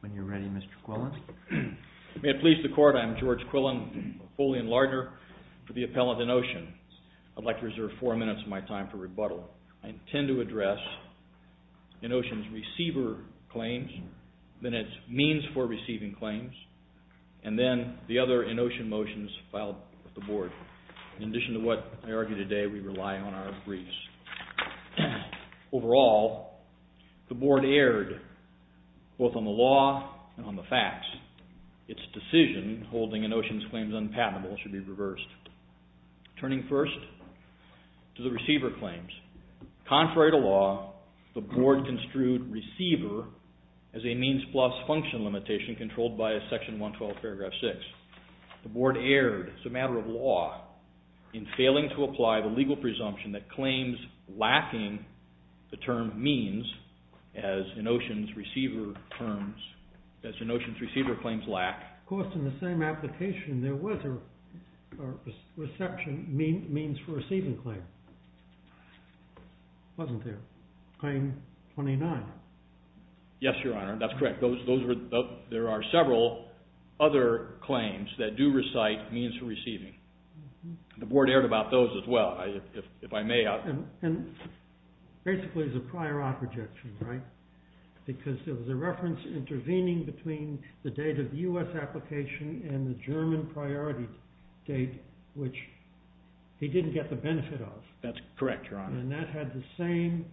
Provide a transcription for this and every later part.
When you're ready, Mr. Quillen. May it please the Court, I'm George Quillen, fully in Lardner for the appellant ENOCEAN. I'd like to reserve four minutes of my time for rebuttal. I intend to address ENOCEAN's receiver claims, then its means for receiving claims, and then the other ENOCEAN motions filed with the Board. In addition to what I argue today, we rely on our briefs. Overall, the Board erred, both on the law and on the facts. Its decision holding ENOCEAN's claims unpatentable should be reversed. Turning first to the receiver claims, contrary to law, the Board construed receiver as a means plus function limitation controlled by Section 112, Paragraph 6. The Board erred, as a matter of law, in failing to apply the legal presumption that claims lacking the term means as ENOCEAN's receiver claims lack. Of course, in the same application, there was a reception means for receiving claim, wasn't there? Claim 29. Yes, Your Honor, that's correct. There are several other claims that do recite means for receiving. The Board erred about those as well. If I may, I'll... Basically, it's a prior op rejection, right? Because there was a reference intervening between the date of the U.S. application and the German priority date, which he didn't get the benefit of. That's correct, Your Honor. And that had the same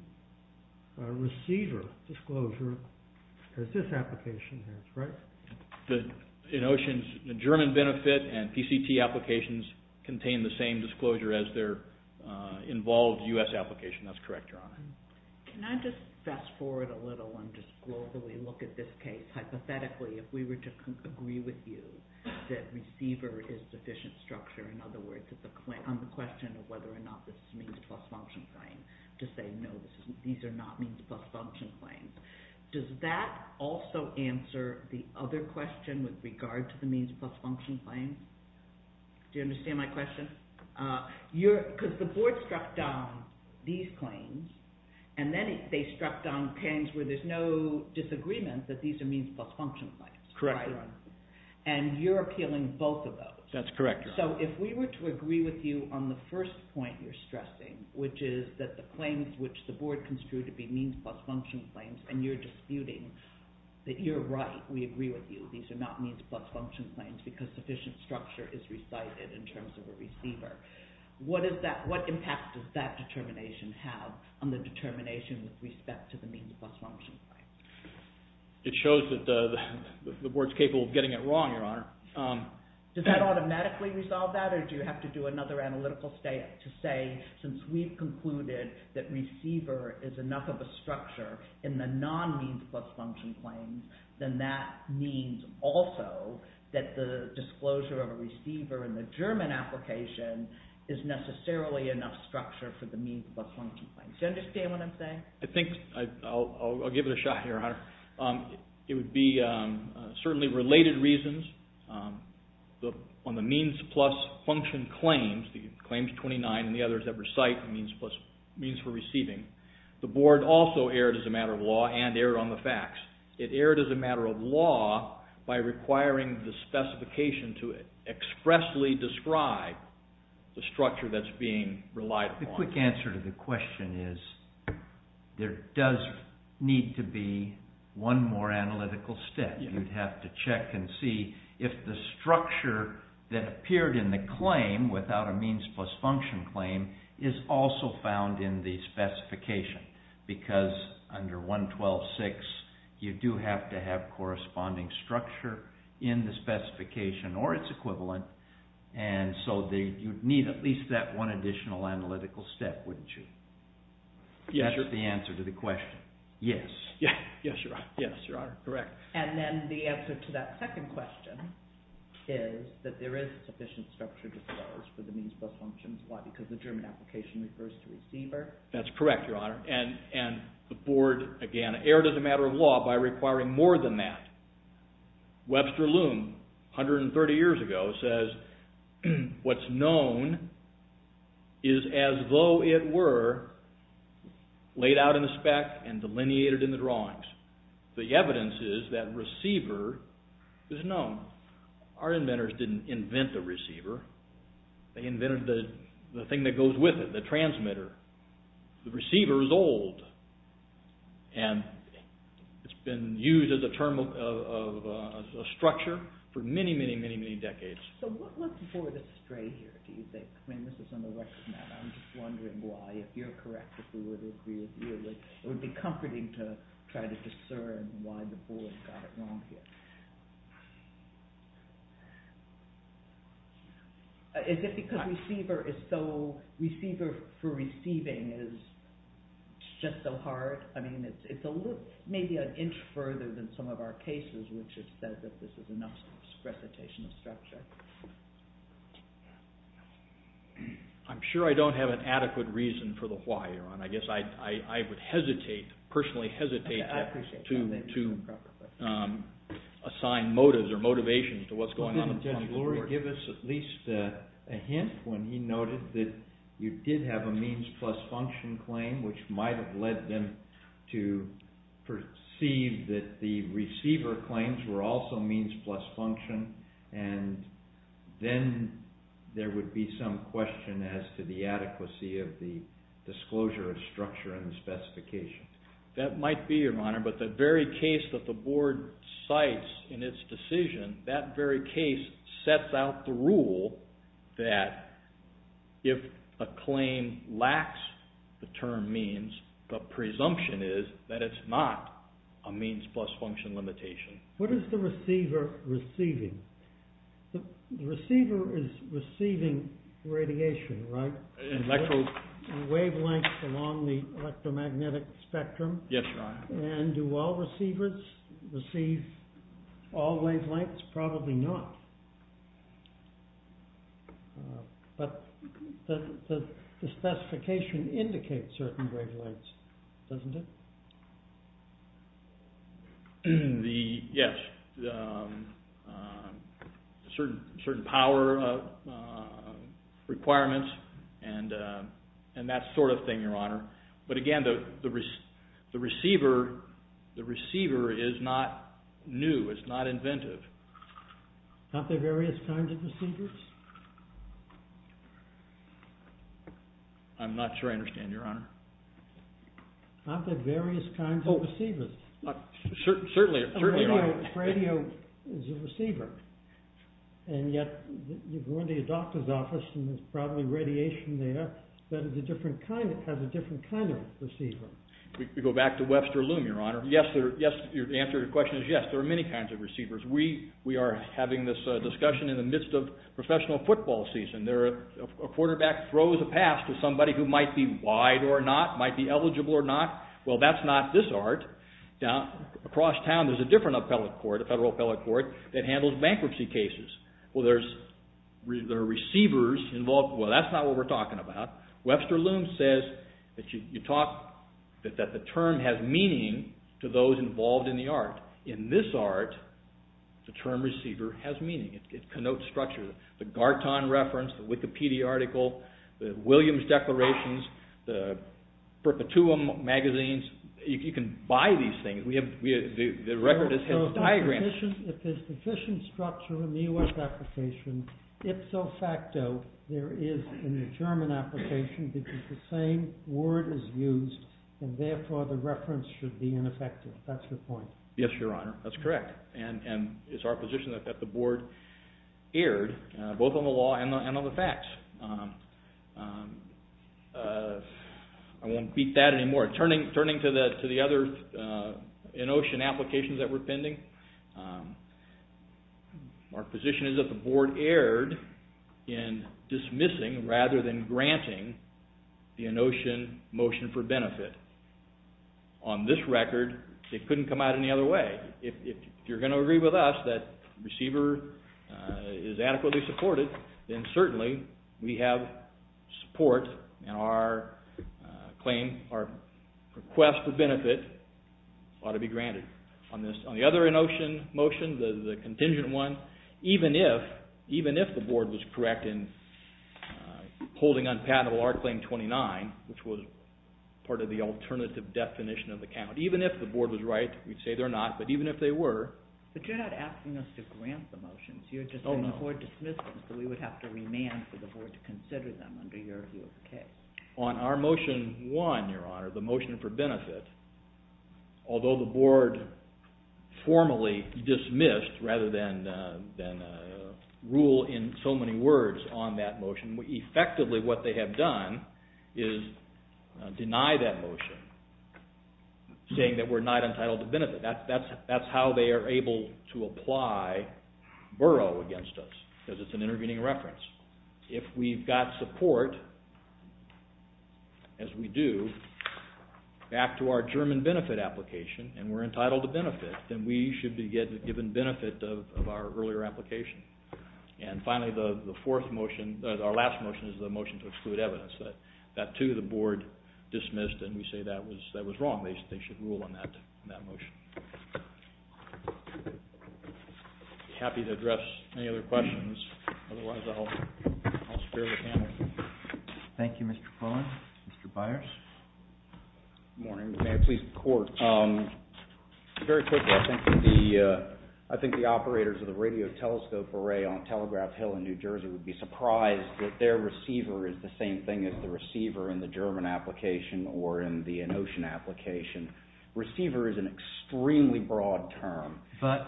receiver disclosure as this ENOCEAN's German benefit, and PCT applications contain the same disclosure as their involved U.S. application. That's correct, Your Honor. Can I just fast forward a little and just globally look at this case, hypothetically, if we were to agree with you that receiver is sufficient structure, in other words, on the question of whether or not this means plus function claim, to say, no, these are not means plus function claims. Does that also answer the other question with regard to the means plus function claim? Do you understand my question? Because the Board struck down these claims, and then they struck down claims where there's no disagreement that these are means plus function claims. Correct, Your Honor. And you're appealing both of those. That's correct, Your Honor. So if we were to agree with you on the first point you're stressing, which is that the claims which the Board construed to be means plus function claims, and you're disputing that you're right, we agree with you, these are not means plus function claims because sufficient structure is recited in terms of a receiver. What impact does that determination have on the determination with respect to the means plus function claim? It shows that the Board's capable of getting it wrong, Your Honor. Does that automatically resolve that, or do you have to do another analytical step to say, since we've concluded that receiver is enough of a structure in the non-means plus function claims, then that means also that the disclosure of a receiver in the German application is necessarily enough structure for the means plus function claims. Do you understand what I'm saying? I think I'll give it a shot, Your Honor. It would be certainly related reasons on the means plus function claims, the claims 29 and the others that recite means for receiving. The Board also erred as a matter of law and erred on the facts. It erred as a matter of law by requiring the specification to expressly describe the structure that's being relied upon. The quick answer to the one more analytical step. You'd have to check and see if the structure that appeared in the claim without a means plus function claim is also found in the specification, because under 112.6, you do have to have corresponding structure in the specification or its equivalent, and so you'd need at least that one additional analytical step, wouldn't you? Yes. That's the answer to the question. Yes. Yes, Your Honor. Yes, Your Honor. Correct. And then the answer to that second question is that there is sufficient structure disclosed for the means plus functions. Why? Because the German application refers to a receiver. That's correct, Your Honor, and the Board, again, erred as a matter of law by requiring more than that. Webster Loom, 130 years ago, says what's known is as though it were laid out in the spec and delineated in the drawings. The evidence is that receiver is known. Our inventors didn't invent the receiver. They invented the thing that goes with it, the transmitter. The receiver is old, and it's been used as a term of structure for many, many, many years. Why is it stray here, do you think? I mean, this is on the record now, and I'm just wondering why. If you're correct, if we would agree with you, it would be comforting to try to discern why the Board got it wrong here. Is it because receiver is so, receiver for receiving is just so hard? I mean, it's a little, maybe an inch further than some of our cases, which have said that this is enough recitation of structure. I'm sure I don't have an adequate reason for the why, Your Honor. I guess I would hesitate, personally hesitate, to assign motives or motivations to what's going on in front of the Board. Didn't Judge Lurie give us at least a hint when he noted that you did have a means plus function claim, which might have led them to perceive that the receiver claims were also means plus function, and then there would be some question as to the adequacy of the disclosure of structure and the specification. That might be, Your Honor, but the very case that the Board cites in its decision, that very case sets out the rule that if a claim lacks the term means, the presumption is that it's not a means plus function limitation. What is the receiver receiving? The receiver is receiving radiation, right? And wavelengths along the electromagnetic spectrum. Yes, Your Honor. And do all receivers receive all wavelengths? Probably not. But the specification indicates certain wavelengths, doesn't it? Yes. Certain power requirements and that sort of thing, Your Honor. But again, the receiver is not new, it's not inventive. Aren't there various kinds of receivers? I'm not sure I understand, Your Honor. Aren't there various kinds of receivers? Certainly, Your Honor. A radio is a receiver. And yet, you go into your doctor's office and there's probably radiation there that has a different kind of receiver. We go back to Webster Loom, Your Honor. Yes, the answer to your question is yes, there are many kinds of receivers. We are having this discussion in the midst of professional football season. A quarterback throws a pass to somebody who might be wide or not, might be eligible or not. Well, that's not this art. Across town, there's a different appellate court, a federal appellate court, that handles bankruptcy cases. Well, there are receivers involved. Well, that's not what we're talking about. Webster Loom says that the term has meaning to those involved in the art. In this art, the term receiver has meaning. It connotes structure. The Garton reference, the Wikipedia article, the Williams declarations, the Berkutuum magazines, you can buy these things. The record has diagrams. If there's sufficient structure in the U.S. application, ipso facto, there is in the German application because the same word is used and therefore the reference should be ineffective. That's your point. Yes, Your Honor. That's correct. It's our position that the board erred, both on the law and on the facts. I won't beat that anymore. Turning to the other in-ocean applications that were pending, our position is that the board erred in dismissing rather than granting the in-ocean motion for benefit. On this record, it couldn't come out any other way. If you're going to agree with us that receiver is adequately supported, then certainly we have support in our claim. Our request for benefit ought to be granted. On the other in-ocean motion, the contingent one, even if the board was correct in holding unpatentable our claim 29, which was part of the alternative definition of the count, even if the board was right, we'd say they're not, but even if they were... we would have to remand for the board to consider them under your view of the case. On our motion one, Your Honor, the motion for benefit, although the board formally dismissed, rather than rule in so many words on that motion, effectively what they have done is deny that motion, saying that we're not entitled to benefit. That's how they are able to apply borough against us, because it's an intervening reference. If we've got support, as we do, back to our German benefit application, and we're entitled to benefit, then we should be given benefit of our earlier application. And finally, our last motion is the motion to exclude evidence. That too, the board dismissed, and we say that was wrong. They should rule on that motion. I'd be happy to address any other questions. Otherwise, I'll spare the panel. Thank you, Mr. Cohen. Mr. Byers. Very quickly, I think the operators of the radio telescope array on Telegraph Hill in New Jersey would be surprised that their receiver is the same thing as the receiver in the German application or in the Inocean application. Receiver is an extremely broad term, but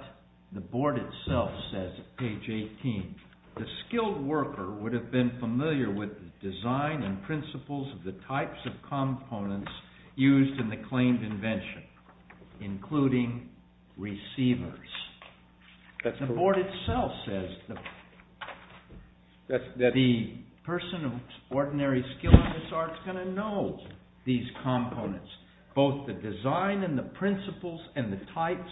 the board itself says, page 18, the skilled worker would have been familiar with the design and principles of the types of components used in the claimed invention, including receivers. The board itself says that the person of ordinary skill is not going to know these components, both the design and the principles and the types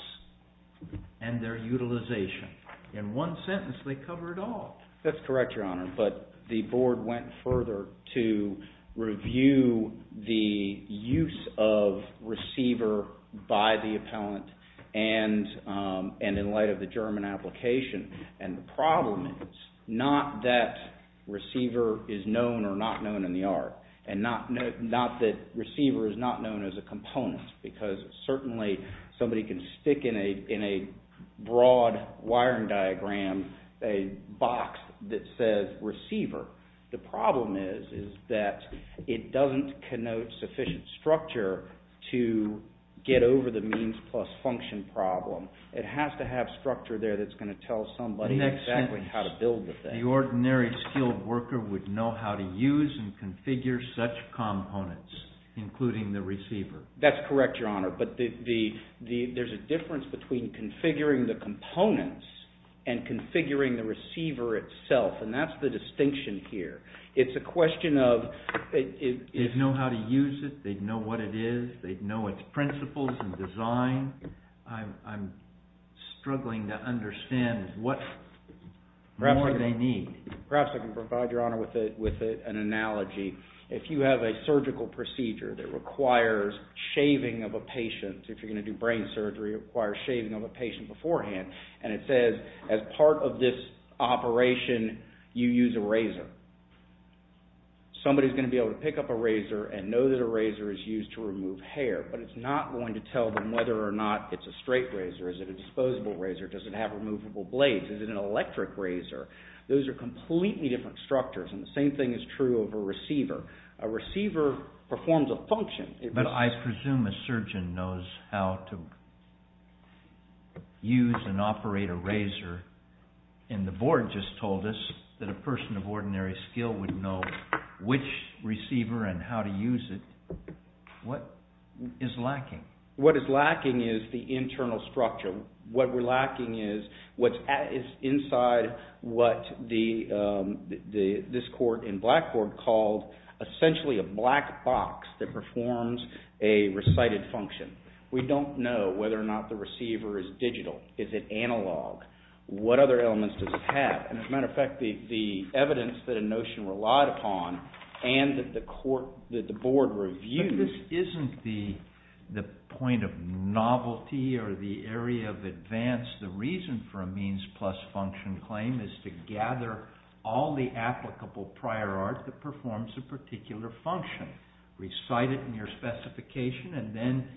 and their utilization. In one sentence, they cover it all. That's correct, Your Honor. But the board went further to review the use of receiver by the appellant and in light of the German application. And the problem is not that receiver is known or not known in the art, and not that receiver is not known as a component, because certainly somebody can stick in a broad wiring diagram a box that says receiver. The problem is that it doesn't connote sufficient structure to get over the means plus function problem. It has to have structure there that's going to tell somebody exactly how to build the thing. The ordinary skilled worker would know how to use and configure such components, including the receiver. That's correct, Your Honor. But there's a difference between configuring the components and configuring the receiver itself, and that's the distinction here. It's a question of... They'd know how to use it, they'd know what it is, they'd know its principles and design. I'm struggling to understand what more they need. Perhaps I can provide, Your Honor, with an analogy. If you have a surgical procedure that requires shaving of a patient, if you're going to do brain surgery, it requires shaving of a patient beforehand, and it says as part of this operation, you use a razor. Somebody's going to be able to pick up a razor and know that a razor is used to remove hair, but it's not going to tell them whether or not it's a straight razor, is it a movable blade, is it an electric razor? Those are completely different structures, and the same thing is true of a receiver. A receiver performs a function... But I presume a surgeon knows how to use and operate a razor, and the board just told us that a person of ordinary skill would know which receiver and how to use it. What is lacking? What is lacking is the internal structure. What we're lacking is what's inside what this court in Blackboard called essentially a black box that performs a recited function. We don't know whether or not the receiver is digital. Is it analog? What other elements does it have? As a matter of fact, the evidence that a notion relied upon and that the court, that the board reviewed... But this isn't the point of advance. The reason for a means plus function claim is to gather all the applicable prior art that performs a particular function, recite it in your specification, and then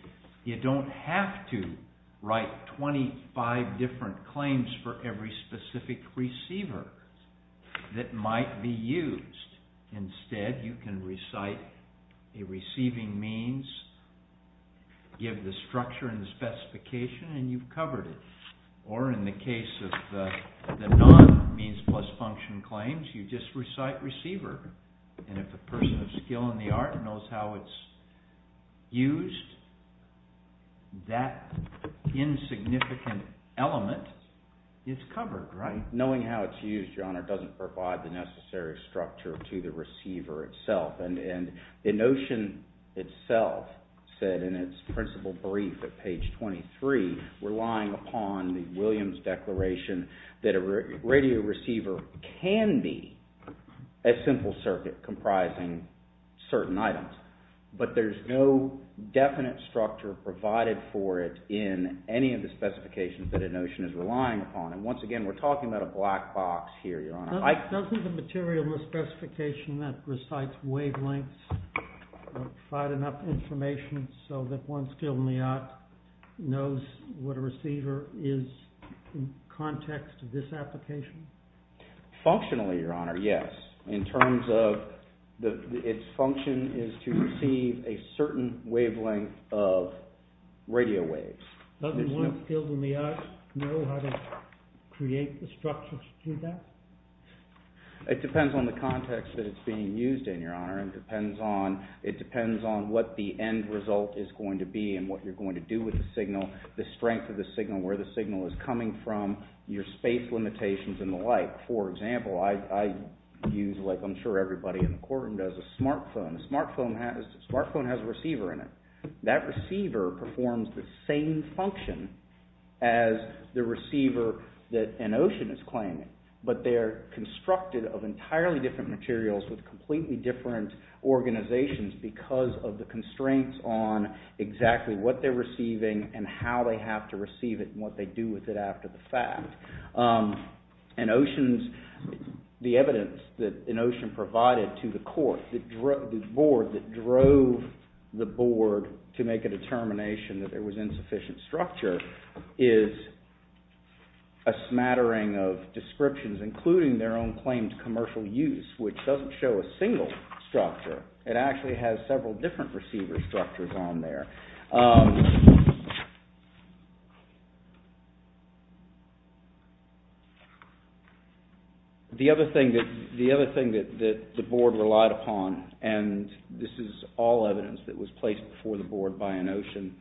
you don't have to write 25 different claims for every specific receiver that might be used. Instead, you can recite a receiving means, give the structure in the specification, and you've covered it. Or in the case of the non-means plus function claims, you just recite receiver. And if a person of skill in the art knows how it's used, that insignificant element is covered, right? Knowing how it's used, Your Honor, doesn't provide the necessary structure to the receiver itself. And the notion itself said in its principle brief at page 23, relying upon the Williams Declaration that a radio receiver can be a simple circuit comprising certain items. But there's no definite structure provided for it in any of the specifications that a notion is relying upon. And once again, we're talking about a black box here, Your Honor. Doesn't the material in the specification that recites wavelengths provide enough information so that one skill in the art knows what a receiver is in context of this application? Functionally, Your Honor, yes. In terms of its function is to receive a certain wavelength of radio waves. Doesn't one skill in the art know how to create the structure to do that? It depends on the context that it's being used in, Your Honor. It depends on what the end result is going to be and what you're going to do with the signal, the strength of the signal, where the signal is coming from, your space limitations and the like. For example, I use, like I'm sure everybody in the courtroom does, a smartphone. A smartphone has a receiver in it. That receiver performs the same function as the receiver that a notion is claiming. But they're constructed of entirely different materials with completely different organizations because of the constraints on exactly what they're receiving and how they have to receive it and what they do with it after the fact. An ocean's, the evidence that an ocean provided to the court, the board that drove the board to make a determination that there was insufficient structure is a smattering of commercial use, which doesn't show a single structure. It actually has several different receiver structures on there. The other thing that the board relied upon, and this is all evidence that was placed before the board by a notion,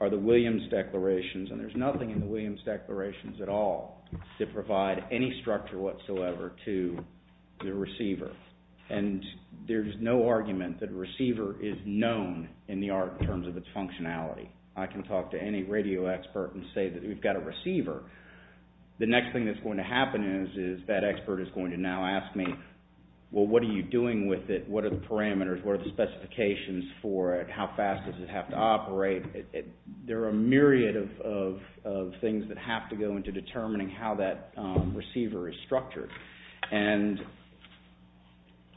are the Williams declarations and there's nothing in the Williams declarations at all to provide any information about the receiver. And there's no argument that a receiver is known in the art in terms of its functionality. I can talk to any radio expert and say that we've got a receiver. The next thing that's going to happen is that expert is going to now ask me well, what are you doing with it? What are the parameters? What are the specifications for it? How fast does it have to operate? There are a myriad of things that have to go into determining how that operates.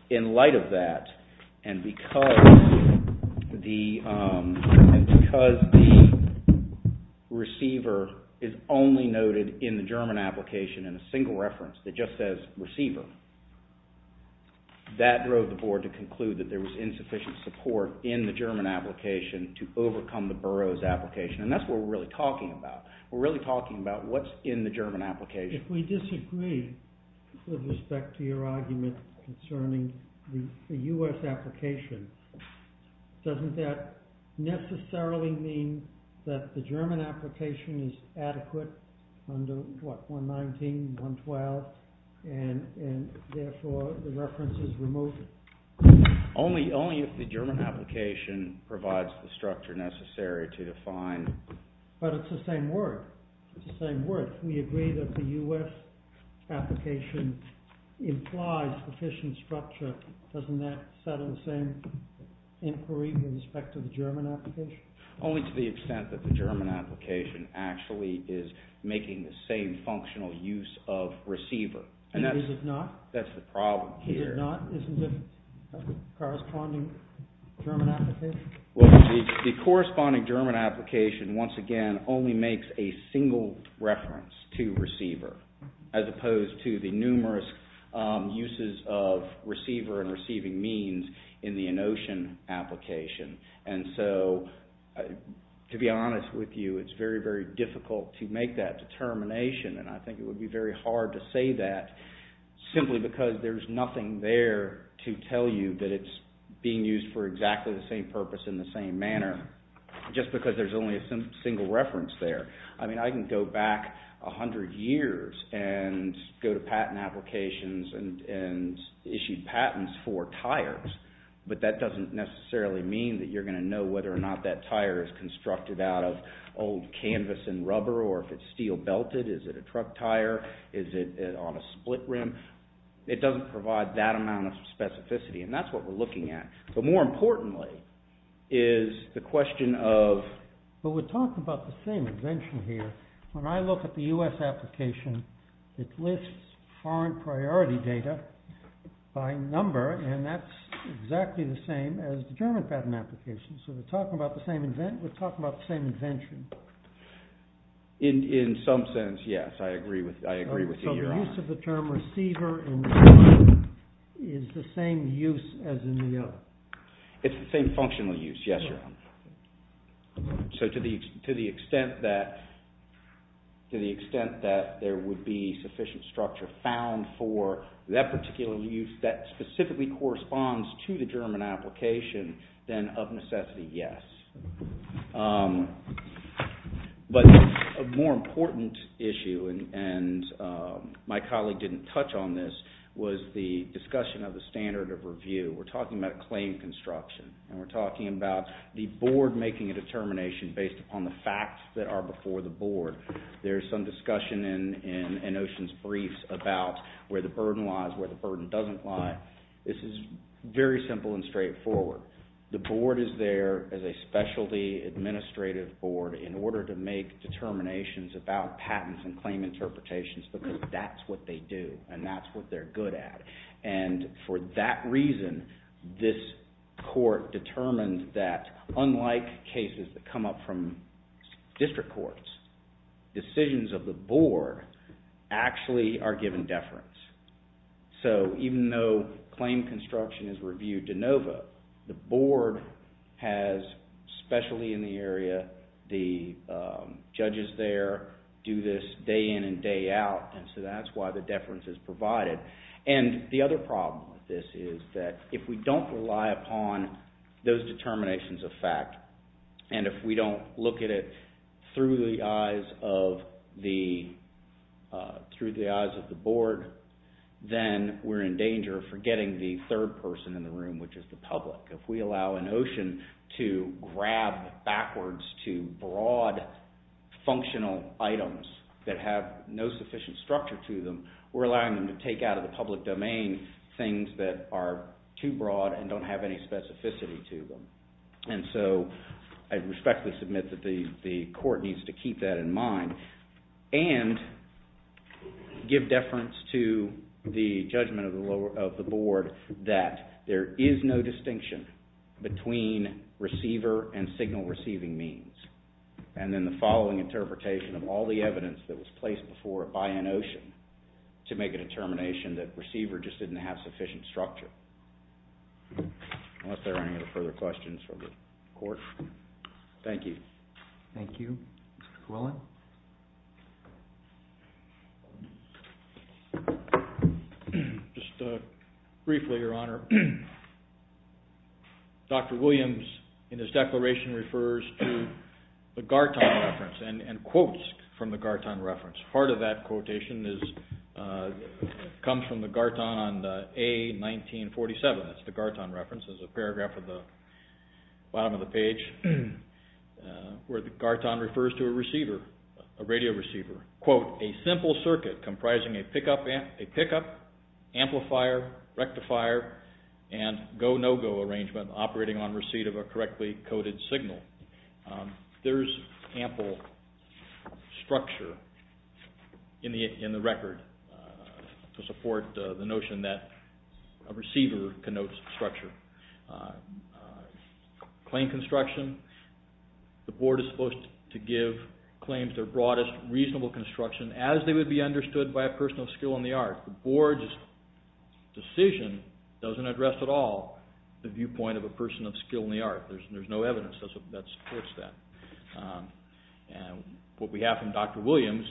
In light of that, and because the receiver is only noted in the German application in a single reference that just says receiver, that drove the board to conclude that there was insufficient support in the German application to overcome the borough's application. And that's what we're really talking about. We're really talking about what's in the German application. If we disagree with respect to your argument concerning the U.S. application, doesn't that necessarily mean that the German application is adequate under 119, 112, and therefore the reference is removed? Only if the German application provides the structure necessary to define. But it's the same word. It's the same word. We agree that the U.S. application implies sufficient structure. Doesn't that settle the same inquiry with respect to the German application? Only to the extent that the German application actually is making the same functional use of receiver. And is it not? That's the problem here. Is it not? Isn't it the corresponding German application? Well, the corresponding German application once again only makes a single reference to receiver. As opposed to the numerous uses of receiver and receiving means in the Inotion application. And so, to be honest with you, it's very, very difficult to make that determination. And I think it would be very hard to say that simply because there's nothing there to tell you that it's being used for exactly the same purpose in the same manner. Just because there's only a single reference there. I mean, I can go back a hundred years and go to patent applications and issue patents for tires. But that doesn't necessarily mean that you're going to know whether or not that tire is constructed out of old canvas and rubber or if it's steel belted. Is it a truck tire? Is it on a split rim? It doesn't provide that amount of specificity. And that's what we're looking at. But more importantly is the question of... But we're talking about the same invention here. When I look at the US application it lists foreign priority data by number and that's exactly the same as the German patent application. So we're talking about the same invention. In some sense, yes. I agree with you. So the use of the term receiver and receiving is the same use as in the... It's the same functional use, yes. So to the extent that there would be sufficient structure found for that particular use that specifically corresponds to the German application then of necessity, yes. But a more important issue and my colleague didn't touch on this was the standard of review. We're talking about claim construction and we're talking about the board making a determination based upon the facts that are before the board. There's some discussion in Ocean's briefs about where the burden lies, where the burden doesn't lie. This is very simple and straightforward. The board is there as a specialty administrative board in order to make determinations about patents and claim interpretations because that's what they do and that's what they're good at. And for that reason, this court determined that unlike cases that come up from district courts, decisions of the board actually are given deference. So even though claim construction is reviewed de novo, the board has, especially in the area, the judges there do this day in and day out. And so that's why the deference is provided. And the other problem with this is that if we don't rely upon those determinations of fact and if we don't look at it through the eyes of the board, then we're in danger of forgetting the third person in the room, which is the public. If we allow an Ocean to grab backwards to broad functional items that have no sufficient structure to them, we're allowing them to take out of the public domain things that are too broad and don't have any specificity to them. And so I respectfully submit that the court needs to keep that in mind and give deference to the judgment of the board that there is no distinction between receiver and signal receiving means. And then following interpretation of all the evidence that was placed before it by an Ocean to make a determination that receiver just didn't have sufficient structure. Unless there are any further questions from the court. Thank you. Thank you. Mr. Quillen? Just briefly, Your Honor. Dr. Williams in his declaration refers to the Garton reference and quotes from the Garton reference. Part of that quotation comes from the Garton on A1947. That's the Garton reference. There's a paragraph at the bottom of the page where Garton refers to a receiver, a radio receiver. Quote, a simple circuit comprising a pickup, amplifier, rectifier, and go-no-go arrangement operating on receipt of a correctly coded signal. There's ample structure in the record to support the notion that a receiver connotes structure. Claim construction, the board is supposed to give claims their broadest reasonable construction as they would be understood by a person of skill in the art. The board's decision doesn't address at all the viewpoint of a person of skill in the art. There's no evidence that supports that. What we have from Dr. Williams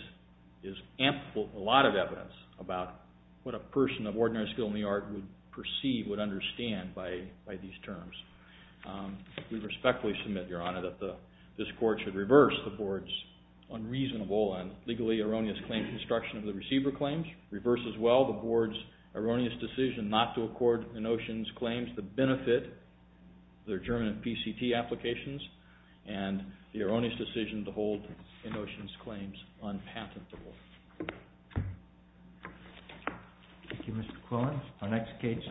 is ample, a lot of evidence about what a person of ordinary skill in the art would perceive, would understand by these terms. We respectfully submit, Your Honor, that this court should reverse the board's unreasonable and legally erroneous claim construction of the receiver claims, reverse as well the board's erroneous decision not to accord a notion's claims the benefit of the adjournment PCT applications, and the erroneous decision to hold a notion's claims unpatentable. Thank you, Mr. Quillen. Our next case is